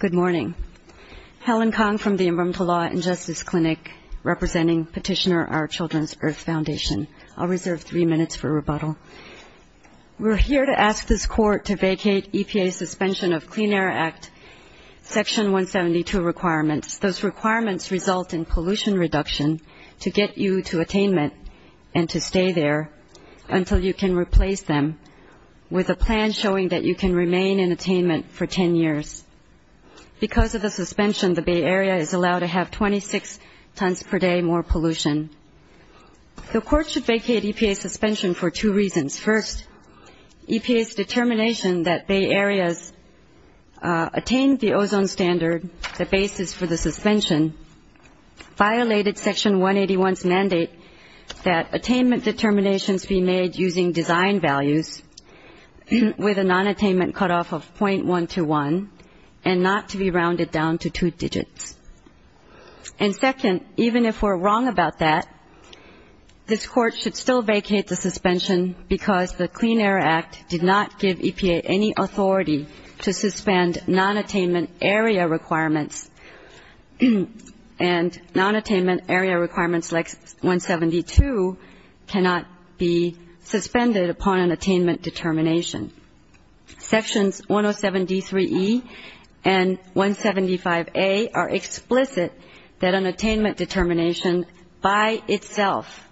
Good morning. Helen Kong from the Imbremtlaw Injustice Clinic, representing Petitioner Our Children's Earth Foundation. I'll reserve three minutes for rebuttal. We're here to ask this Court to vacate EPA's suspension of Clean Air Act Section 172 requirements. Those requirements result in pollution reduction to get you to attainment and to stay there until you can replace them with a plan showing that you can remain in attainment for 10 years. Because of the suspension, the Bay Area is allowed to have 26 tons per day more pollution. The Court should vacate EPA's suspension for two reasons. First, EPA's determination that Bay Areas attain the ozone standard, the basis for the suspension, violated Section 181's mandate that attainment determinations be made using design values with a nonattainment cutoff of .121 and not to be rounded down to two digits. And second, even if we're wrong about that, this Court should still vacate the suspension because the Clean Air Act did not give EPA any authority to suspend nonattainment area requirements and nonattainment area requirements like 172 cannot be suspended upon an attainment determination. Sections 107D3E and 175A are explicit that an attainment determination by itself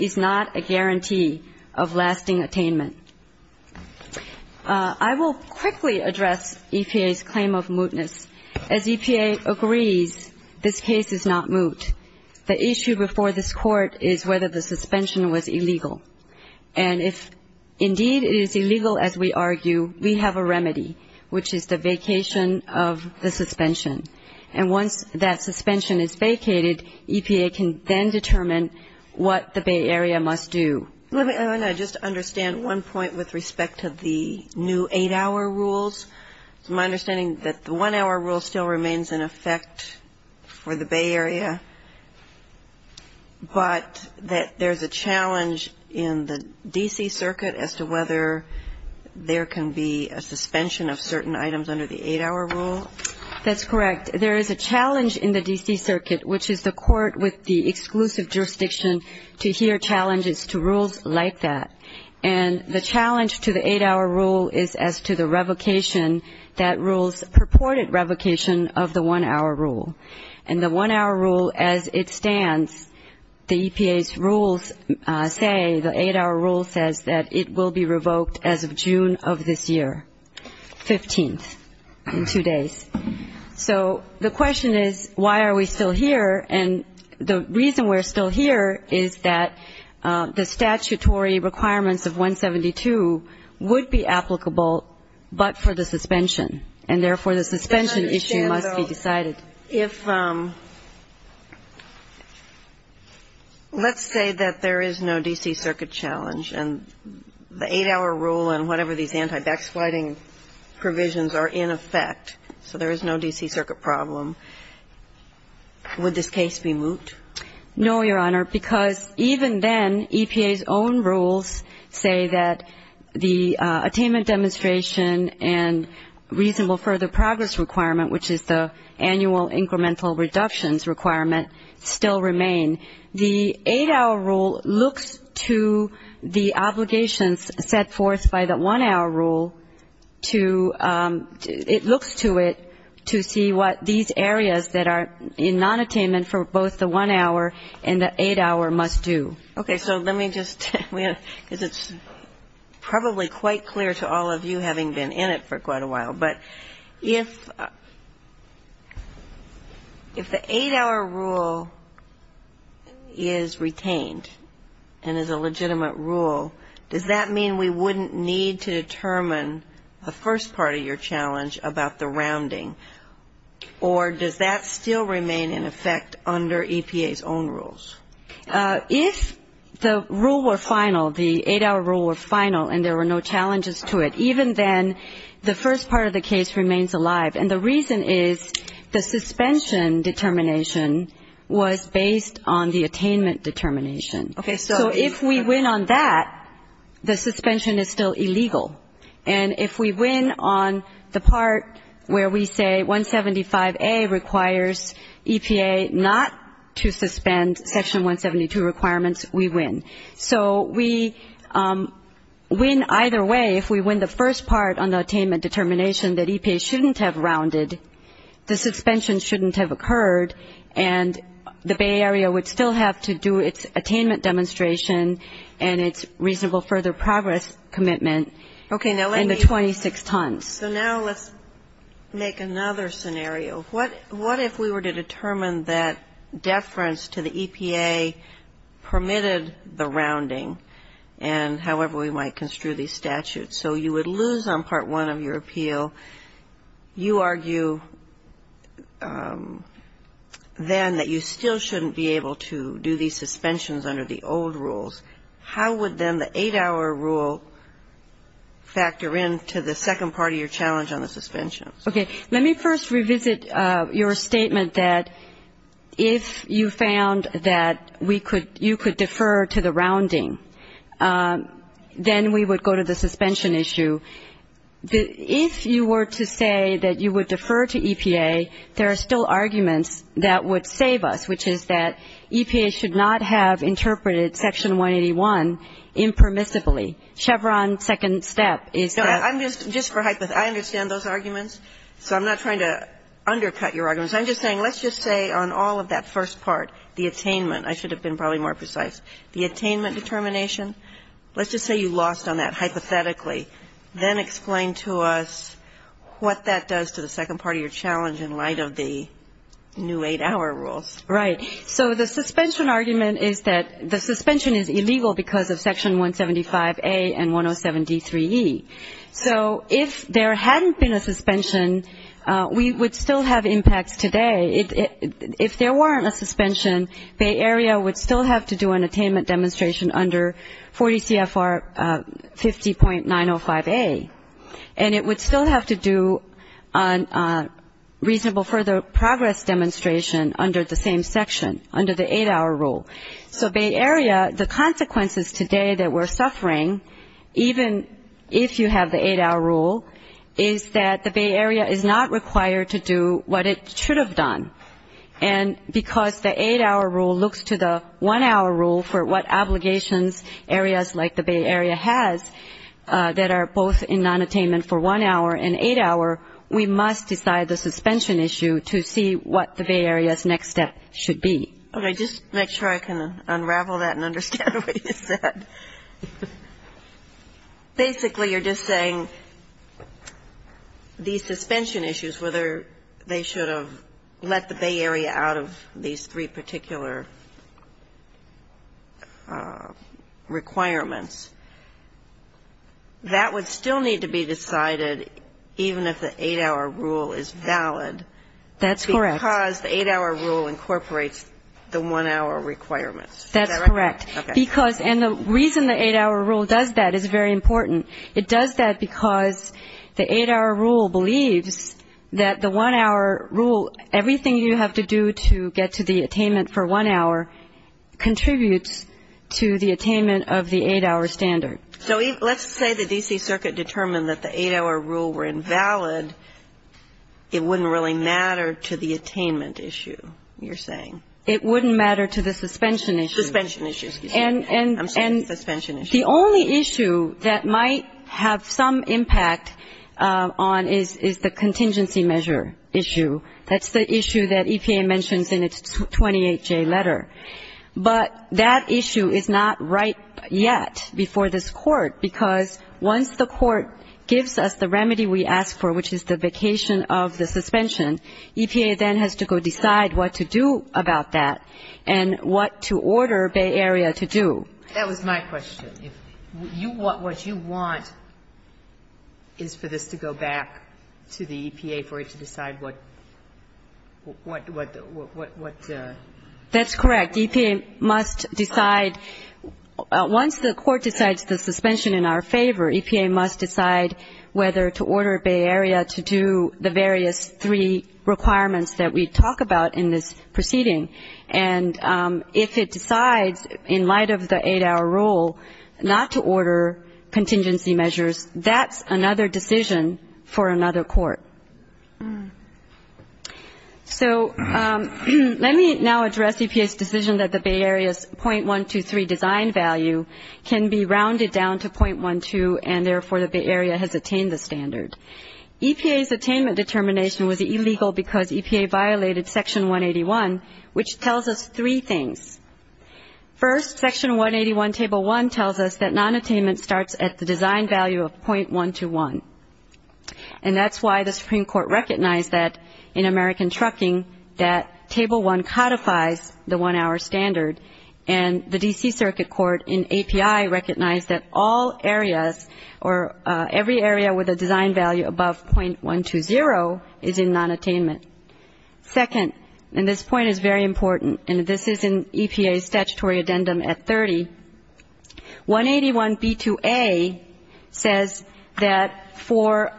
is not a guarantee of lasting attainment. I will quickly address EPA's claim of mootness. As EPA agrees, this case is not moot. The issue before this Court is whether the suspension was illegal. And if indeed it is illegal, as we argue, we have a remedy, which is the vacation of the suspension. And once that suspension is vacated, EPA can then determine what the Bay Area must do. Let me just understand one point with respect to the new eight-hour rules. It's my understanding that the one-hour rule still remains in effect for the Bay Area, but that there's a challenge in the D.C. Circuit as to whether there can be a suspension of certain items under the eight-hour rule. That's correct. There is a challenge in the D.C. Circuit, which is the court with the exclusive jurisdiction, to hear challenges to rules like that. And the challenge to the eight-hour rule is as to the revocation that rules purported revocation of the one-hour rule. And the one-hour rule, as it stands, the EPA's rules say, the eight-hour rule says, that it will be revoked as of June of this year, 15th, in two days. So the question is, why are we still here? And the reason we're still here is that the statutory requirements of 172 would be applicable but for the suspension. And therefore, the suspension issue must be decided. Let's say that there is no D.C. Circuit challenge, and the eight-hour rule and whatever these anti-backsliding provisions are in effect. So there is no D.C. Circuit problem. Would this case be moot? No, Your Honor, because even then, EPA's own rules say that the attainment demonstration and reasonable further progress requirement, which is the annual incremental reductions requirement, still remain. The eight-hour rule looks to the obligations set forth by the one-hour rule to ‑‑ it looks to it to see what these areas that are in nonattainment for both the one-hour and the eight-hour must do. Okay. So let me just ‑‑ because it's probably quite clear to all of you having been in it for quite a while. But if the eight-hour rule is retained and is a legitimate rule, does that mean we wouldn't need to determine the first part of your challenge about the rounding? Or does that still remain in effect under EPA's own rules? If the rule were final, the eight-hour rule were final and there were no challenges to it, even then the first part of the case remains alive. And the reason is the suspension determination was based on the attainment determination. Okay. So if we win on that, the suspension is still illegal. And if we win on the part where we say 175A requires EPA not to suspend Section 172 requirements, we win. So we win either way. If we win the first part on the attainment determination that EPA shouldn't have rounded, the suspension shouldn't have occurred, and the Bay Area would still have to do its attainment demonstration and its reasonable further progress commitment in the 26 tons. So now let's make another scenario. What if we were to determine that deference to the EPA permitted the rounding, and however we might construe these statutes? So you would lose on Part 1 of your appeal. You argue then that you still shouldn't be able to do these suspensions under the old rules. How would then the eight-hour rule factor into the second part of your challenge on the suspension? Okay. Let me first revisit your statement that if you found that you could defer to the rounding, then we would go to the suspension issue. If you were to say that you would defer to EPA, there are still arguments that would save us, which is that EPA should not have interpreted Section 181 impermissibly. Chevron second step is that ‑‑ I understand those arguments, so I'm not trying to undercut your arguments. I'm just saying let's just say on all of that first part, the attainment. I should have been probably more precise. The attainment determination, let's just say you lost on that hypothetically. Then explain to us what that does to the second part of your challenge in light of the new eight-hour rules. Right. So the suspension argument is that the suspension is illegal because of Section 175A and 107D3E. So if there hadn't been a suspension, we would still have impacts today. If there weren't a suspension, Bay Area would still have to do an attainment demonstration under 40 CFR 50.905A, and it would still have to do a reasonable further progress demonstration under the same section, under the eight-hour rule. So Bay Area, the consequences today that we're suffering, even if you have the eight-hour rule, is that the Bay Area is not required to do what it should have done. And because the eight-hour rule looks to the one-hour rule for what obligations areas like the Bay Area has that are both in nonattainment for one hour and eight hour, we must decide the suspension issue to see what the Bay Area's next step should be. Okay. Just make sure I can unravel that and understand what you said. Basically, you're just saying these suspension issues, whether they should have let the Bay Area out of these three particular requirements, that would still need to be decided even if the eight-hour rule is valid. That's correct. Because the eight-hour rule incorporates the one-hour requirements. Is that right? That's correct. Okay. And the reason the eight-hour rule does that is very important. It does that because the eight-hour rule believes that the one-hour rule, everything you have to do to get to the attainment for one hour, contributes to the attainment of the eight-hour standard. So let's say the D.C. Circuit determined that the eight-hour rule were invalid, it wouldn't really matter to the attainment issue, you're saying? It wouldn't matter to the suspension issue. Suspension issue. And the only issue that might have some impact on is the contingency measure issue. That's the issue that EPA mentions in its 28J letter. But that issue is not right yet before this Court, because once the Court gives us the remedy we ask for, which is the vacation of the suspension, EPA then has to go decide what to do about that and what to order Bay Area to do. That was my question. What you want is for this to go back to the EPA for it to decide what to do. That's correct. EPA must decide, once the Court decides the suspension in our favor, EPA must decide whether to order Bay Area to do the various three requirements that we talk about in this proceeding. And if it decides, in light of the eight-hour rule, not to order contingency measures, that's another decision for another Court. So let me now address EPA's decision that the Bay Area's 0.123 design value can be rounded down to 0.12 and therefore the Bay Area has attained the standard. EPA's attainment determination was illegal because EPA violated Section 181, which tells us three things. First, Section 181, Table 1, tells us that nonattainment starts at the design value of 0.121. And that's why the Supreme Court recognized that in American Trucking that Table 1 codifies the one-hour standard, and the D.C. Circuit Court in API recognized that all areas or every area with a design value above 0.120 is in nonattainment. Second, and this point is very important, and this is in EPA's statutory addendum at 30, 181B2A says that for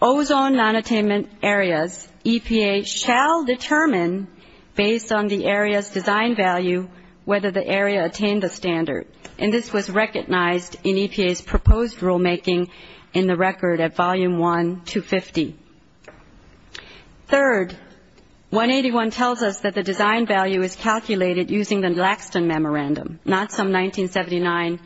ozone nonattainment areas, EPA shall determine, based on the area's design value, whether the area attained the standard. And this was recognized in EPA's proposed rulemaking in the record at Volume 1, 250. Third, 181 tells us that the design value is calculated using the Laxton Memorandum, not some 1979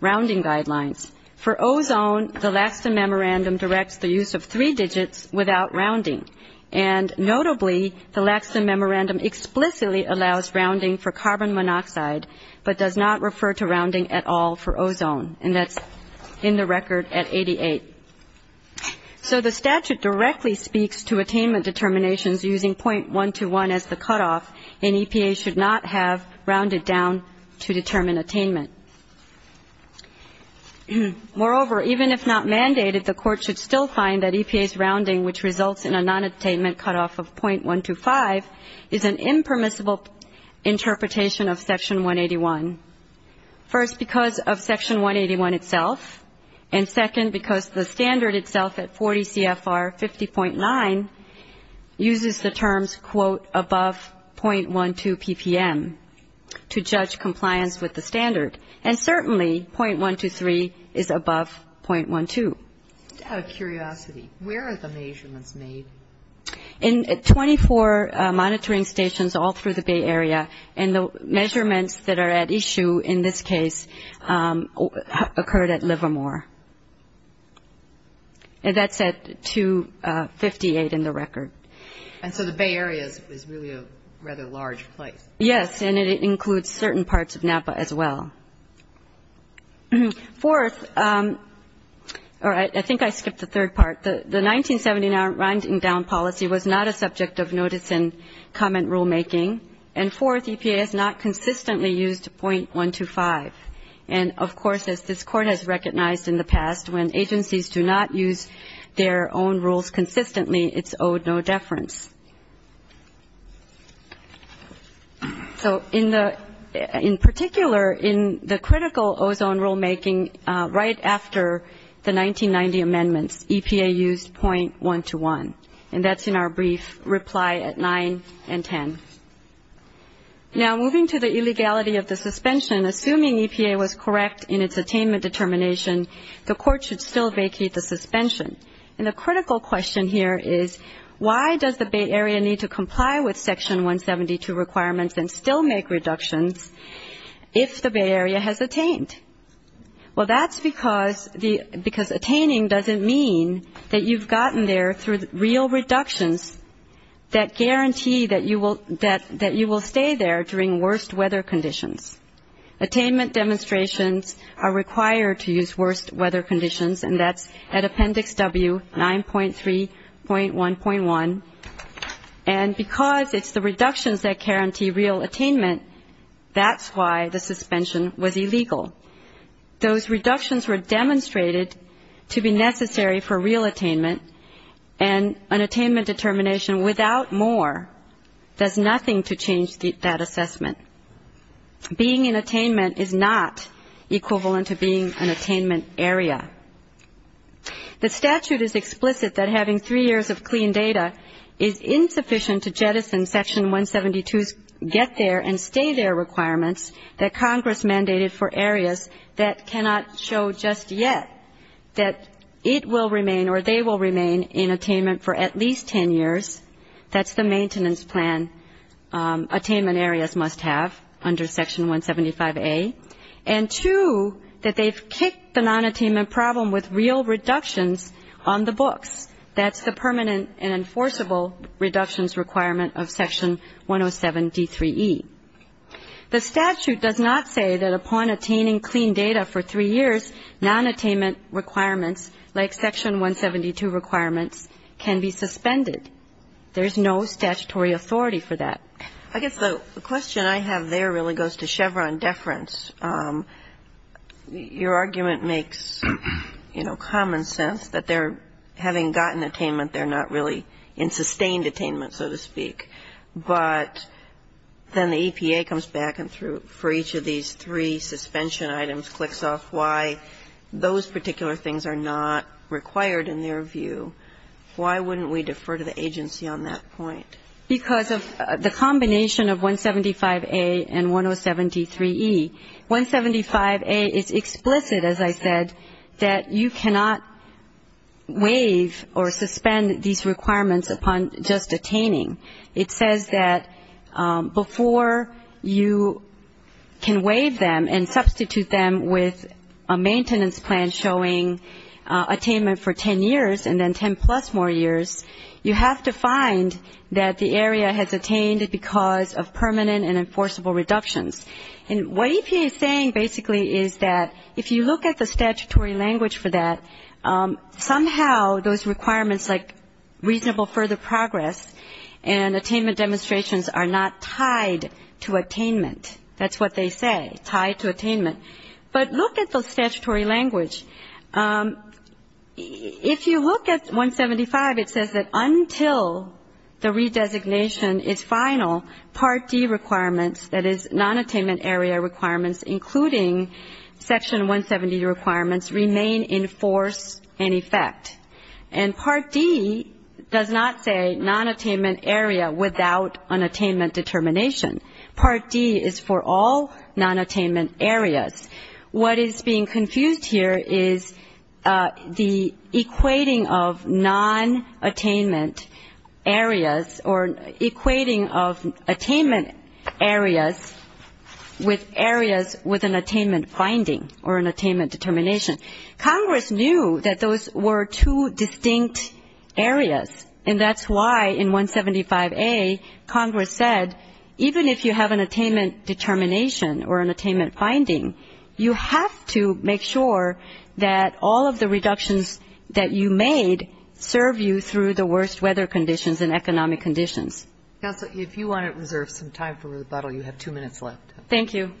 rounding guidelines. For ozone, the Laxton Memorandum directs the use of three digits without rounding. And notably, the Laxton Memorandum explicitly allows rounding for carbon monoxide, but does not refer to rounding at all for ozone, and that's in the record at 88. So the statute directly speaks to attainment determinations using 0.121 as the cutoff, and EPA should not have rounded down to determine attainment. Moreover, even if not mandated, the Court should still find that EPA's rounding, which results in a nonattainment cutoff of 0.125, is an impermissible interpretation of Section 181, first, because of Section 181 itself, and second, because the standard itself at 40 CFR 50.9 uses the terms, quote, above 0.12 PPM to judge compliance with the standard. And certainly, 0.123 is above 0.12. Out of curiosity, where are the measurements made? In 24 monitoring stations all through the Bay Area, and the measurements that are at issue in this case occurred at Livermore. That's at 258 in the record. And so the Bay Area is really a rather large place. Yes, and it includes certain parts of Napa as well. Fourth, or I think I skipped the third part. The 1979 rounding down policy was not a subject of notice and comment rulemaking. And fourth, EPA has not consistently used 0.125. And, of course, as this Court has recognized in the past, when agencies do not use their own rules consistently, it's owed no deference. So in particular, in the critical ozone rulemaking right after the 1990 amendments, EPA used 0.121. And that's in our brief reply at 9 and 10. Now, moving to the illegality of the suspension, assuming EPA was correct in its attainment determination, the Court should still vacate the suspension. And the critical question here is, why does the Bay Area need to comply with Section 172 requirements and still make reductions if the Bay Area has attained? Well, that's because attaining doesn't mean that you've gotten there through real reductions that guarantee that you will stay there during worst weather conditions. Attainment demonstrations are required to use worst weather conditions, and that's at Appendix W, 9.3.1.1. And because it's the reductions that guarantee real attainment, that's why the suspension was illegal. Those reductions were demonstrated to be necessary for real attainment, and an attainment determination without more does nothing to change that assessment. Being in attainment is not equivalent to being an attainment area. The statute is explicit that having three years of clean data is insufficient to jettison Section 172's get there and stay there requirements that Congress mandated for areas that cannot show just yet that it will remain or they will remain in attainment for at least ten years. That's the maintenance plan attainment areas must have under Section 175A. And two, that they've kicked the nonattainment problem with real reductions on the books. That's the permanent and enforceable reductions requirement of Section 107D3E. The statute does not say that upon attaining clean data for three years, nonattainment requirements like Section 172 requirements can be suspended. There's no statutory authority for that. I guess the question I have there really goes to Chevron deference. Your argument makes, you know, common sense that they're having gotten attainment, they're not really in sustained attainment, so to speak. But then the EPA comes back and through for each of these three suspension items, clicks off why those particular things are not required in their view. Why wouldn't we defer to the agency on that point? Because of the combination of 175A and 107D3E. 175A is explicit, as I said, that you cannot waive or suspend these requirements upon just attaining. It says that before you can waive them and substitute them with a maintenance plan showing attainment for ten years and then ten plus more years, you have to find that the area has attained it because of permanent and enforceable reductions. And what EPA is saying basically is that if you look at the statutory language for that, somehow those requirements like reasonable further progress and attainment demonstrations are not tied to attainment. That's what they say, tied to attainment. But look at the statutory language. If you look at 175, it says that until the redesignation is final, Part D requirements, that is, nonattainment area requirements, including Section 170 requirements, remain in force and effect. And Part D does not say nonattainment area without an attainment determination. Part D is for all nonattainment areas. What is being confused here is the equating of nonattainment areas or equating of attainment areas with areas with an attainment finding or an attainment determination. Congress knew that those were two distinct areas, and that's why in 175A Congress said even if you have an attainment determination or an attainment finding, you have to make sure that all of the reductions that you made serve you through the worst weather conditions and economic conditions. Counsel, if you want to reserve some time for rebuttal, you have two minutes left. Thank you.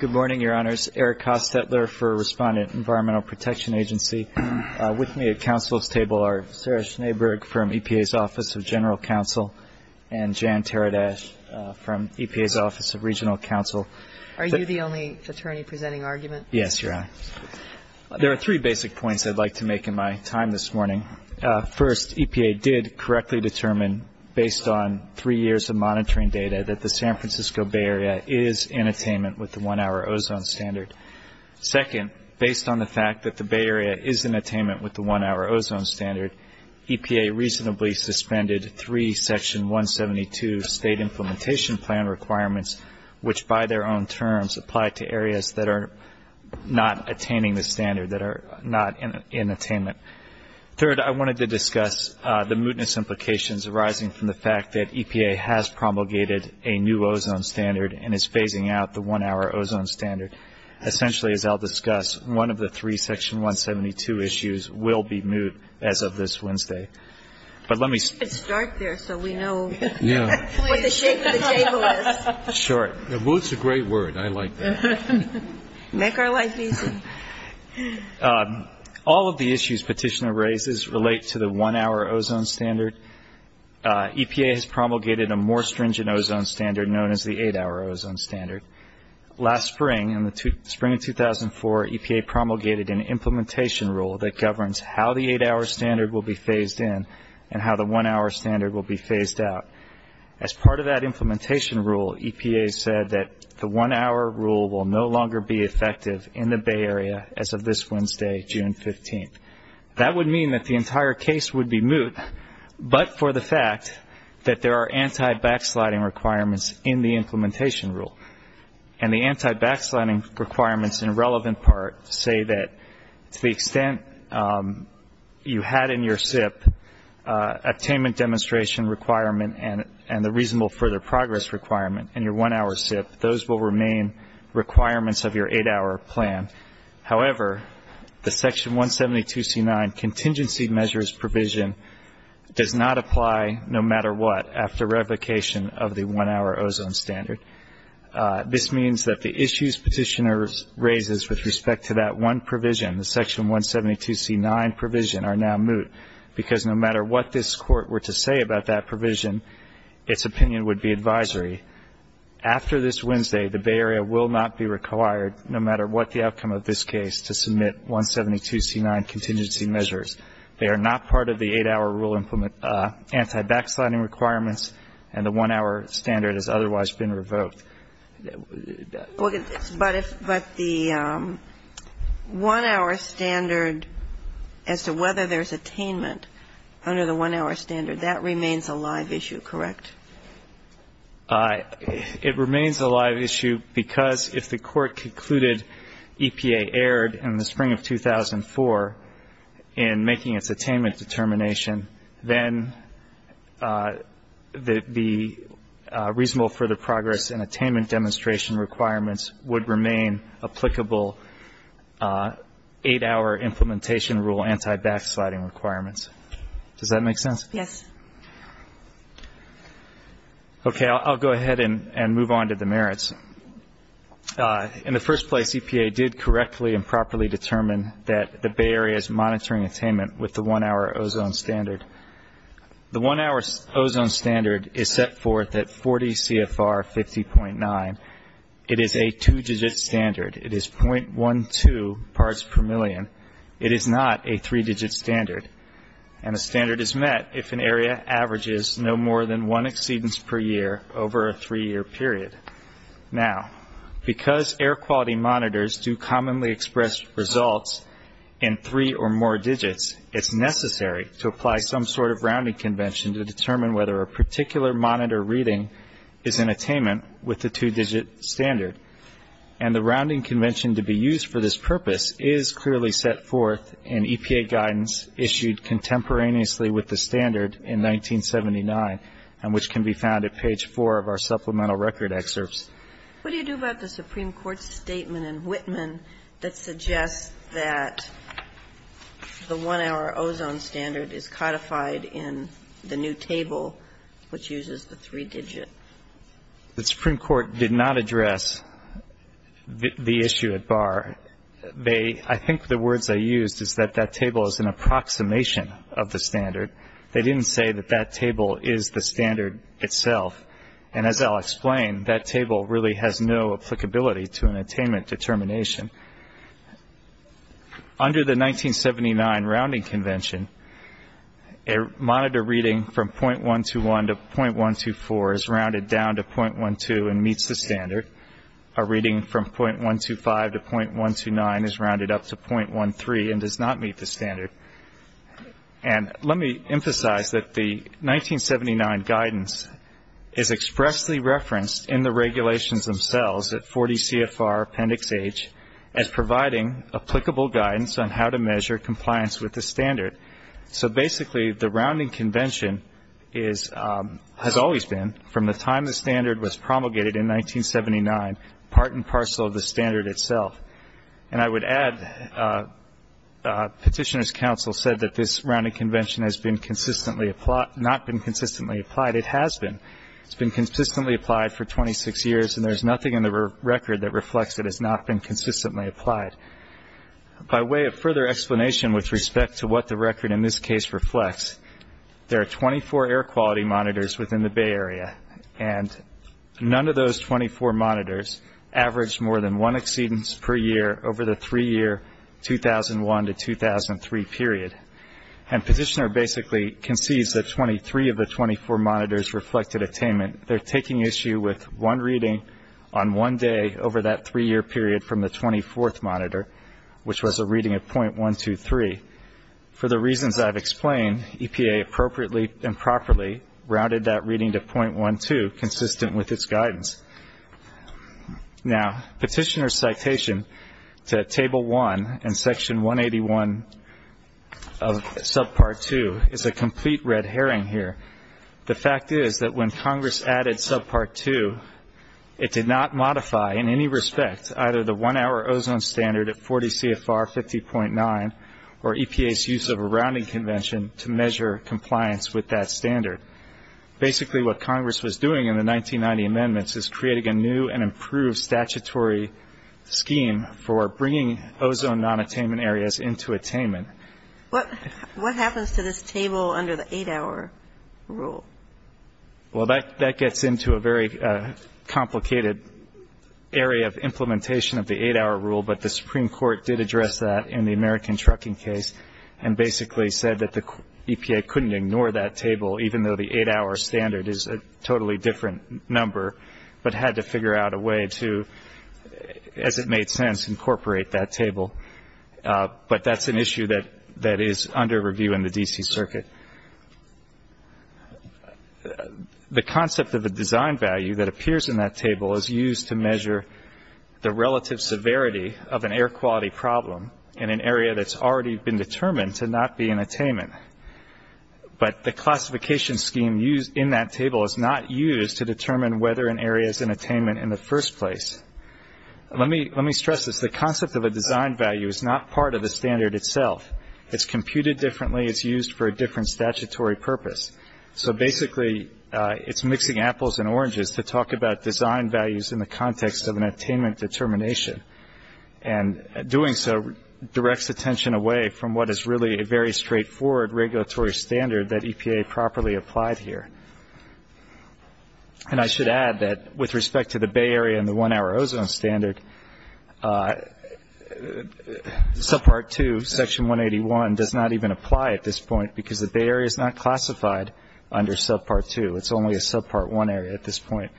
Good morning, Your Honors. Eric Hostetler for Respondent Environmental Protection Agency. With me at counsel's table are Sarah Schneeberg from EPA's Office of General Counsel and Jan Taradas from EPA's Office of Regional Counsel. Are you the only attorney presenting argument? Yes, Your Honor. There are three basic points I'd like to make in my time this morning. First, EPA did correctly determine based on three years of monitoring data that the San Francisco Bay Area is in attainment with the one-hour ozone standard. Second, based on the fact that the Bay Area is in attainment with the one-hour ozone standard, EPA reasonably suspended three Section 172 State Implementation Plan requirements, which by their own terms apply to areas that are not attaining the standard, that are not in attainment. Third, I wanted to discuss the mootness implications arising from the fact that EPA has promulgated a new ozone standard and is phasing out the one-hour ozone standard. Essentially, as I'll discuss, one of the three Section 172 issues will be moot as of this Wednesday. Let's start there so we know what the shape of the table is. Sure. Moot's a great word. I like that. Make our life easy. All of the issues Petitioner raises relate to the one-hour ozone standard. EPA has promulgated a more stringent ozone standard known as the eight-hour ozone standard. Last spring, in the spring of 2004, EPA promulgated an implementation rule that governs how the eight-hour standard will be phased in and how the one-hour standard will be phased out. As part of that implementation rule, EPA said that the one-hour rule will no longer be effective in the Bay Area as of this Wednesday, June 15th. That would mean that the entire case would be moot, but for the fact that there are anti-backsliding requirements in the implementation rule, and the anti-backsliding requirements, in relevant part, say that to the extent you had in your SIP attainment demonstration requirement and the reasonable further progress requirement in your one-hour SIP, those will remain requirements of your eight-hour plan. However, the Section 172C9 contingency measures provision does not apply no matter what after revocation of the one-hour ozone standard. This means that the issues petitioners raises with respect to that one provision, the Section 172C9 provision, are now moot, because no matter what this Court were to say about that provision, its opinion would be advisory. After this Wednesday, the Bay Area will not be required, no matter what the outcome of this case, to submit 172C9 contingency measures. They are not part of the eight-hour rule anti-backsliding requirements, and the one-hour standard has otherwise been revoked. But the one-hour standard, as to whether there's attainment under the one-hour standard, that remains a live issue, correct? It remains a live issue because if the Court concluded EPA erred in the spring of 2004, in making its attainment determination, then the reasonable further progress in attainment demonstration requirements would remain applicable eight-hour implementation rule anti-backsliding requirements. Does that make sense? Yes. Okay. I'll go ahead and move on to the merits. In the first place, EPA did correctly and properly determine that the Bay Area is monitoring attainment with the one-hour ozone standard. The one-hour ozone standard is set forth at 40 CFR 50.9. It is a two-digit standard. It is .12 parts per million. It is not a three-digit standard, and a standard is met if an area averages no more than one exceedance per year over a three-year period. Now, because air quality monitors do commonly express results in three or more digits, it's necessary to apply some sort of rounding convention to determine whether a particular monitor reading is in attainment with the two-digit standard. And the rounding convention to be used for this purpose is clearly set forth in EPA guidance issued contemporaneously with the standard in 1979 and which can be found at page four of our supplemental record excerpts. What do you do about the Supreme Court's statement in Whitman that suggests that the one-hour ozone standard is codified in the new table, which uses the three-digit? The Supreme Court did not address the issue at bar. I think the words they used is that that table is an approximation of the standard. They didn't say that that table is the standard itself. And as I'll explain, that table really has no applicability to an attainment determination. Under the 1979 rounding convention, a monitor reading from 0.121 to 0.124 is rounded down to 0.12 and meets the standard. A reading from 0.125 to 0.129 is rounded up to 0.13 and does not meet the standard. And let me emphasize that the 1979 guidance is expressly referenced in the regulations themselves at 40 CFR Appendix H as providing applicable guidance on how to measure compliance with the standard. So basically the rounding convention has always been, from the time the standard was promulgated in 1979, part and parcel of the standard itself. And I would add Petitioner's Council said that this rounding convention has not been consistently applied. It has been. It's been consistently applied for 26 years, and there's nothing in the record that reflects it has not been consistently applied. By way of further explanation with respect to what the record in this case reflects, there are 24 air quality monitors within the Bay Area, and none of those 24 monitors averaged more than one exceedance per year over the three-year 2001 to 2003 period. And Petitioner basically concedes that 23 of the 24 monitors reflected attainment. They're taking issue with one reading on one day over that three-year period from the 24th monitor, which was a reading of 0.123. For the reasons I've explained, EPA appropriately and properly rounded that reading to 0.12, consistent with its guidance. Now, Petitioner's citation to Table 1 and Section 181 of Subpart 2 is a complete red herring here. The fact is that when Congress added Subpart 2, it did not modify in any respect either the one-hour ozone standard at 40 CFR 50.9 or EPA's use of a rounding convention to measure compliance with that standard. Basically, what Congress was doing in the 1990 amendments is creating a new and improved statutory scheme for bringing ozone non-attainment areas into attainment. What happens to this table under the eight-hour rule? Well, that gets into a very complicated area of implementation of the eight-hour rule, but the Supreme Court did address that in the American Trucking case and basically said that the EPA couldn't ignore that table, even though the eight-hour standard is a totally different number, but had to figure out a way to, as it made sense, incorporate that table. But that's an issue that is under review in the D.C. Circuit. The concept of the design value that appears in that table is used to measure the relative severity of an air quality problem in an area that's already been determined to not be in attainment. But the classification scheme in that table is not used to determine whether an area is in attainment in the first place. Let me stress this. The concept of a design value is not part of the standard itself. It's computed differently. It's used for a different statutory purpose. So basically it's mixing apples and oranges to talk about design values in the context of an attainment determination. And doing so directs attention away from what is really a very straightforward regulatory standard that EPA properly applied here. And I should add that with respect to the Bay Area and the one-hour ozone standard, Subpart 2, Section 181 does not even apply at this point because the Bay Area is not classified under Subpart 2. It's only a Subpart 1 area at this point.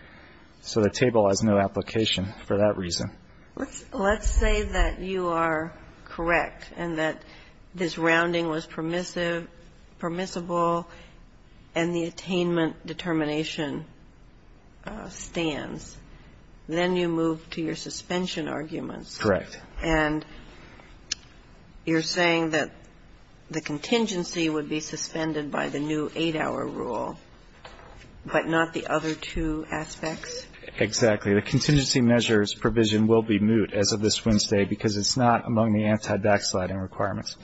So the table has no application for that reason. Let's say that you are correct and that this rounding was permissible and the attainment determination stands. Then you move to your suspension arguments. Correct. And you're saying that the contingency would be suspended by the new 8-hour rule, but not the other two aspects? Exactly. The contingency measures provision will be moot as of this Wednesday because it's not among the anti-backsliding requirements.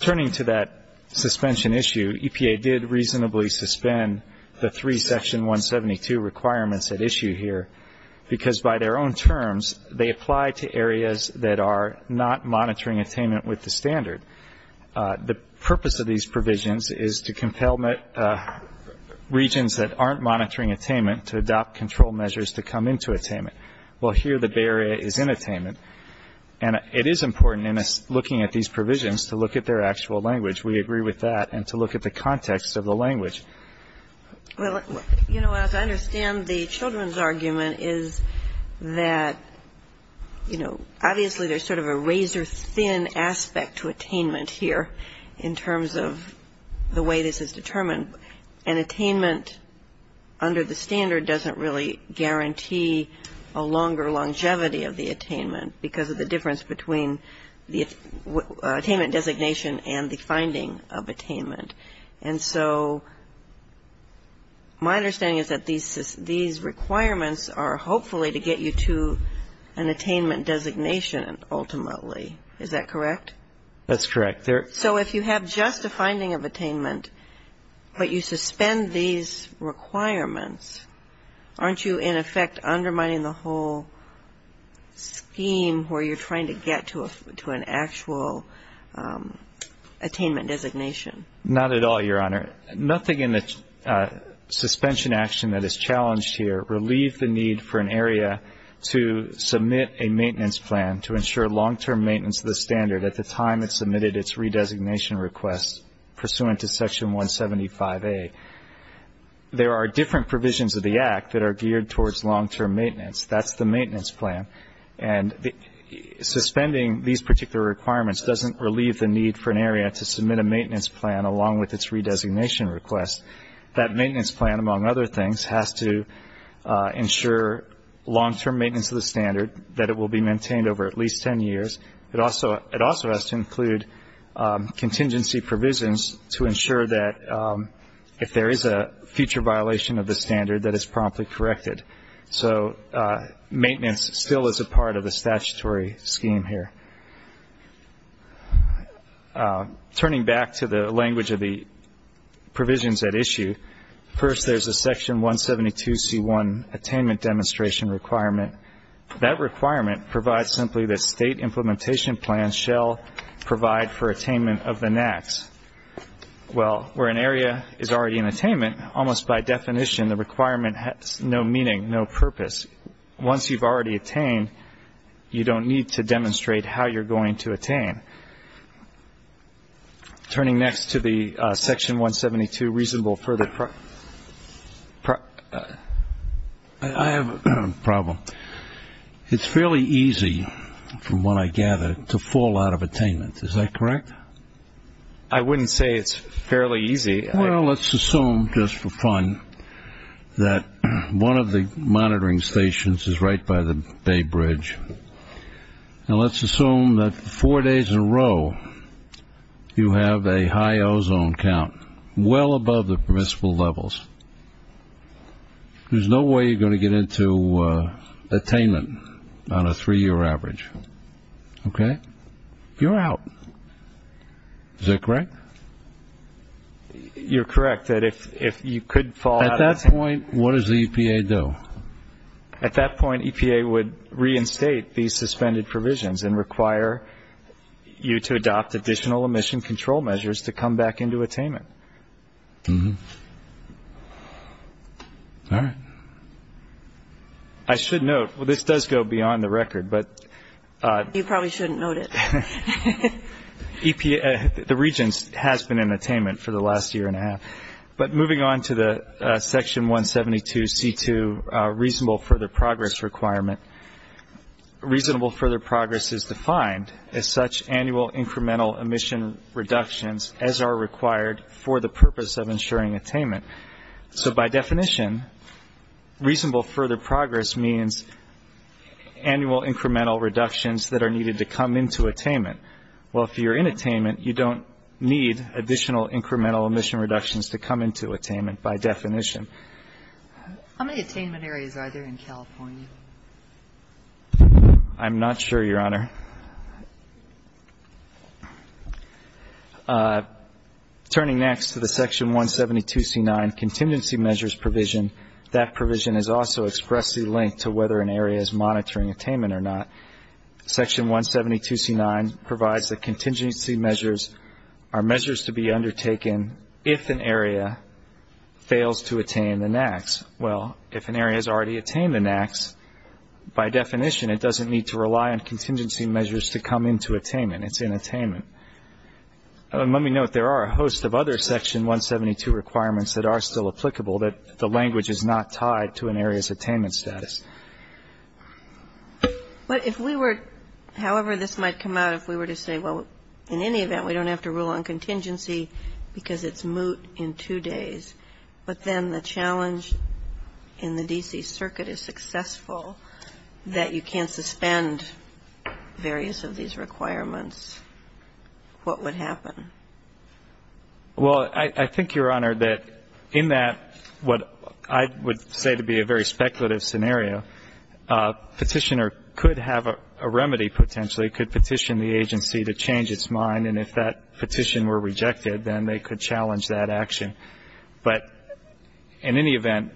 Turning to that suspension issue, EPA did reasonably suspend the three Section 172 requirements at issue here because by their own terms they apply to areas that are not monitoring attainment with the standard. The purpose of these provisions is to compel regions that aren't monitoring attainment to adopt control measures to come into attainment. Well, here the Bay Area is in attainment. And it is important in looking at these provisions to look at their actual language. We agree with that. And to look at the context of the language. Well, you know, as I understand the children's argument is that, you know, obviously there's sort of a razor-thin aspect to attainment here in terms of the way this is determined. But an attainment under the standard doesn't really guarantee a longer longevity of the attainment because of the difference between the attainment designation and the finding of attainment. And so my understanding is that these requirements are hopefully to get you to an attainment designation ultimately. Is that correct? That's correct. So if you have just a finding of attainment, but you suspend these requirements, aren't you in effect undermining the whole scheme where you're trying to get to an actual attainment designation? Not at all, Your Honor. Nothing in the suspension action that is challenged here relieved the need for an area to submit a maintenance plan to ensure long-term maintenance of the standard at the time it submitted its redesignation request pursuant to Section 175A. There are different provisions of the Act that are geared towards long-term maintenance. That's the maintenance plan. And suspending these particular requirements doesn't relieve the need for an area to submit a maintenance plan along with its redesignation request. That maintenance plan, among other things, has to ensure long-term maintenance of the standard, that it will be maintained over at least ten years. It also has to include contingency provisions to ensure that if there is a future violation of the standard, that it's promptly corrected. So maintenance still is a part of the statutory scheme here. Turning back to the language of the provisions at issue, first there's a Section 172C1 attainment demonstration requirement. That requirement provides simply that state implementation plans shall provide for attainment of the NACs. Well, where an area is already in attainment, almost by definition the requirement has no meaning, no purpose. Once you've already attained, you don't need to demonstrate how you're going to attain. Turning next to the Section 172 reasonable further pro- I have a problem. It's fairly easy, from what I gather, to fall out of attainment. Is that correct? I wouldn't say it's fairly easy. Well, let's assume, just for fun, that one of the monitoring stations is right by the Bay Bridge, and let's assume that four days in a row you have a high ozone count, well above the permissible levels. There's no way you're going to get into attainment on a three-year average. Okay? You're out. Is that correct? You're correct, that if you could fall out of- At that point, what does the EPA do? At that point, EPA would reinstate these suspended provisions and require you to adopt additional emission control measures to come back into attainment. All right. I should note, well, this does go beyond the record, but- You probably shouldn't note it. The Regents has been in attainment for the last year and a half. But moving on to the Section 172C2 reasonable further progress requirement, reasonable further progress is defined as such annual incremental emission reductions as are required for the purpose of ensuring attainment. So by definition, reasonable further progress means annual incremental reductions that are needed to come into attainment. Well, if you're in attainment, you don't need additional incremental emission reductions to come into attainment by definition. How many attainment areas are there in California? I'm not sure, Your Honor. Turning next to the Section 172C9 contingency measures provision, that provision is also expressly linked to whether an area is monitoring attainment or not. Section 172C9 provides that contingency measures are measures to be undertaken if an area fails to attain the NAAQS. Well, if an area has already attained the NAAQS, by definition, it doesn't need to rely on contingency measures to come into attainment. It's in attainment. Let me note there are a host of other Section 172 requirements that are still applicable that the language is not tied to an area's attainment status. But if we were, however this might come out, if we were to say, well, in any event, we don't have to rule on contingency because it's moot in two days, but then the challenge in the D.C. Circuit is successful, that you can't suspend various of these requirements, what would happen? Well, I think, Your Honor, that in that what I would say to be a very speculative scenario, a petitioner could have a remedy potentially, could petition the agency to change its mind. And if that petition were rejected, then they could challenge that action. But in any event,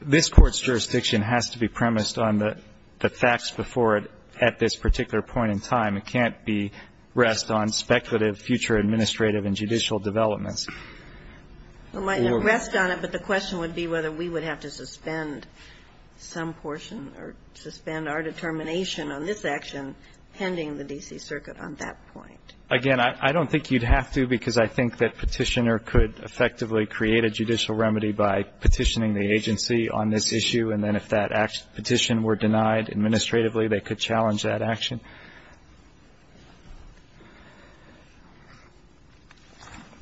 this Court's jurisdiction has to be premised on the facts before it at this particular point in time. It can't be rest on speculative future administrative and judicial developments. It might rest on it, but the question would be whether we would have to suspend some portion or suspend our determination on this action pending the D.C. Circuit on that point. Again, I don't think you'd have to because I think that petitioner could effectively create a judicial remedy by petitioning the agency on this issue, and then if that petition were denied administratively, they could challenge that action.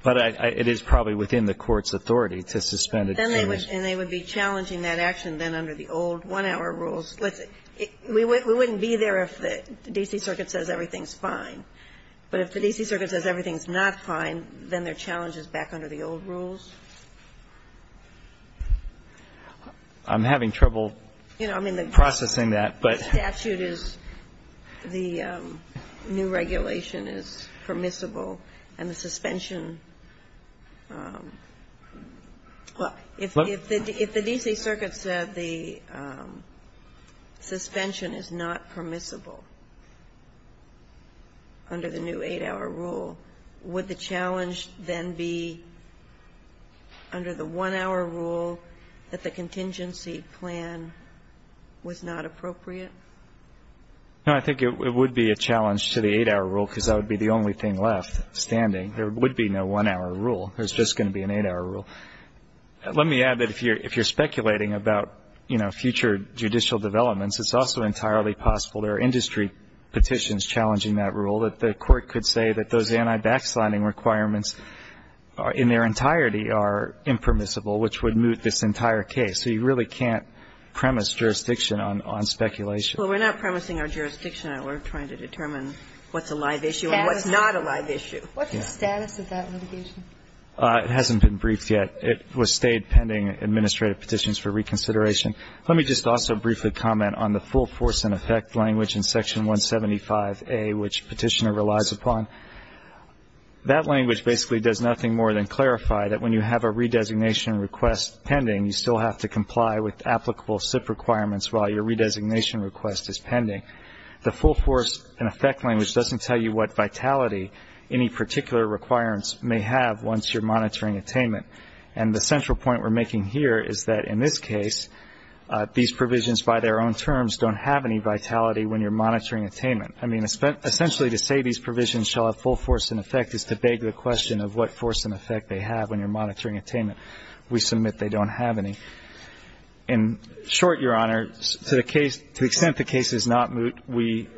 But it is probably within the Court's authority to suspend it. And they would be challenging that action then under the old one-hour rules. We wouldn't be there if the D.C. Circuit says everything's fine. But if the D.C. Circuit says everything's not fine, then their challenge is back under the old rules? I'm having trouble processing that, but the statute is the new regulation is permissible, and the suspension, well, if the D.C. Circuit said the suspension is not permissible under the new eight-hour rule, would the challenge then be to suspend under the one-hour rule that the contingency plan was not appropriate? No. I think it would be a challenge to the eight-hour rule because that would be the only thing left standing. There would be no one-hour rule. There's just going to be an eight-hour rule. Let me add that if you're speculating about, you know, future judicial developments, it's also entirely possible there are industry petitions challenging that rule, that the court could say that those anti-backsliding requirements in their entirety are impermissible, which would moot this entire case. So you really can't premise jurisdiction on speculation. Well, we're not premising our jurisdiction. We're trying to determine what's a live issue and what's not a live issue. What's the status of that litigation? It hasn't been briefed yet. It was stayed pending administrative petitions for reconsideration. Let me just also briefly comment on the full force and effect language in Section 175A, which Petitioner relies upon. That language basically does nothing more than clarify that when you have a redesignation request pending, you still have to comply with applicable SIP requirements while your redesignation request is pending. The full force and effect language doesn't tell you what vitality any particular requirements may have once you're monitoring attainment. And the central point we're making here is that in this case, these provisions by their own terms don't have any vitality when you're monitoring attainment. I mean, essentially to say these provisions shall have full force and effect is to beg the question of what force and effect they have when you're monitoring attainment. We submit they don't have any. In short, Your Honor, to the extent the case is not moot, we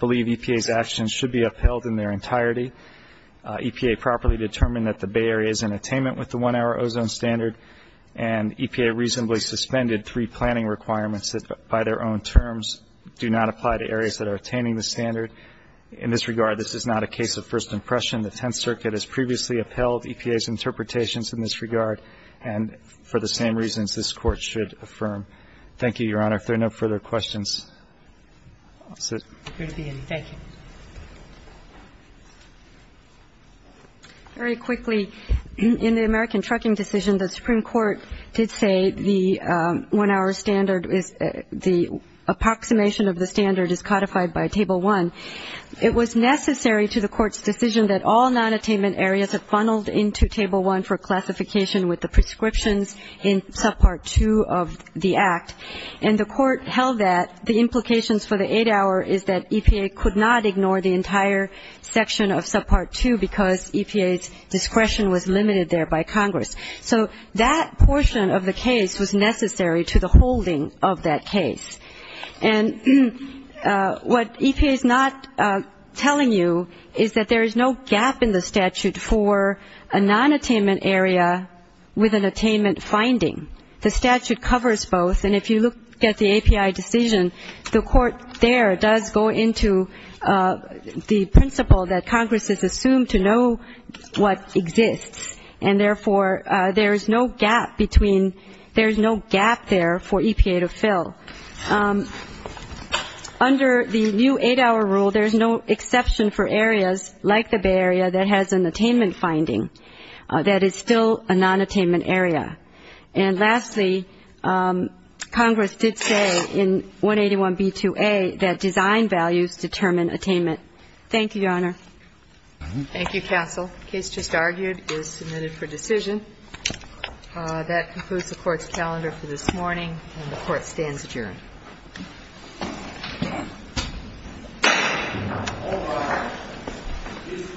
believe EPA's actions should be upheld in their entirety. EPA properly determined that the Bay Area is in attainment with the one-hour ozone standard, and EPA reasonably suspended three planning requirements that, by their own terms, do not apply to areas that are attaining the standard. In this regard, this is not a case of first impression. The Tenth Circuit has previously upheld EPA's interpretations in this regard, and for the same reasons this Court should affirm. Thank you, Your Honor. Thank you. Thank you. Very quickly, in the American Trucking Decision, the Supreme Court did say the one-hour standard is the approximation of the standard is codified by Table 1. It was necessary to the Court's decision that all nonattainment areas are funneled into Table 1 for classification with the prescriptions in Subpart 2 of the Act, and the Court held that the implications for the eight-hour is that EPA could not ignore the entire section of Subpart 2 because EPA's discretion was limited there by Congress. So that portion of the case was necessary to the holding of that case. And what EPA is not telling you is that there is no gap in the statute for a nonattainment area with an attainment finding. The statute covers both, and if you look at the API decision, the Court there does go into the principle that Congress is assumed to know what exists, and therefore there is no gap there for EPA to fill. Under the new eight-hour rule, there is no exception for areas like the Bay Area that has an attainment finding that is still a nonattainment area. And lastly, Congress did say in 181b2a that design values determine attainment. Thank you, Your Honor. Thank you, counsel. The case just argued is submitted for decision. That concludes the Court's calendar for this morning, and the Court stands adjourned. All rise. This court is adjourned. This court is adjourned. This court is adjourned.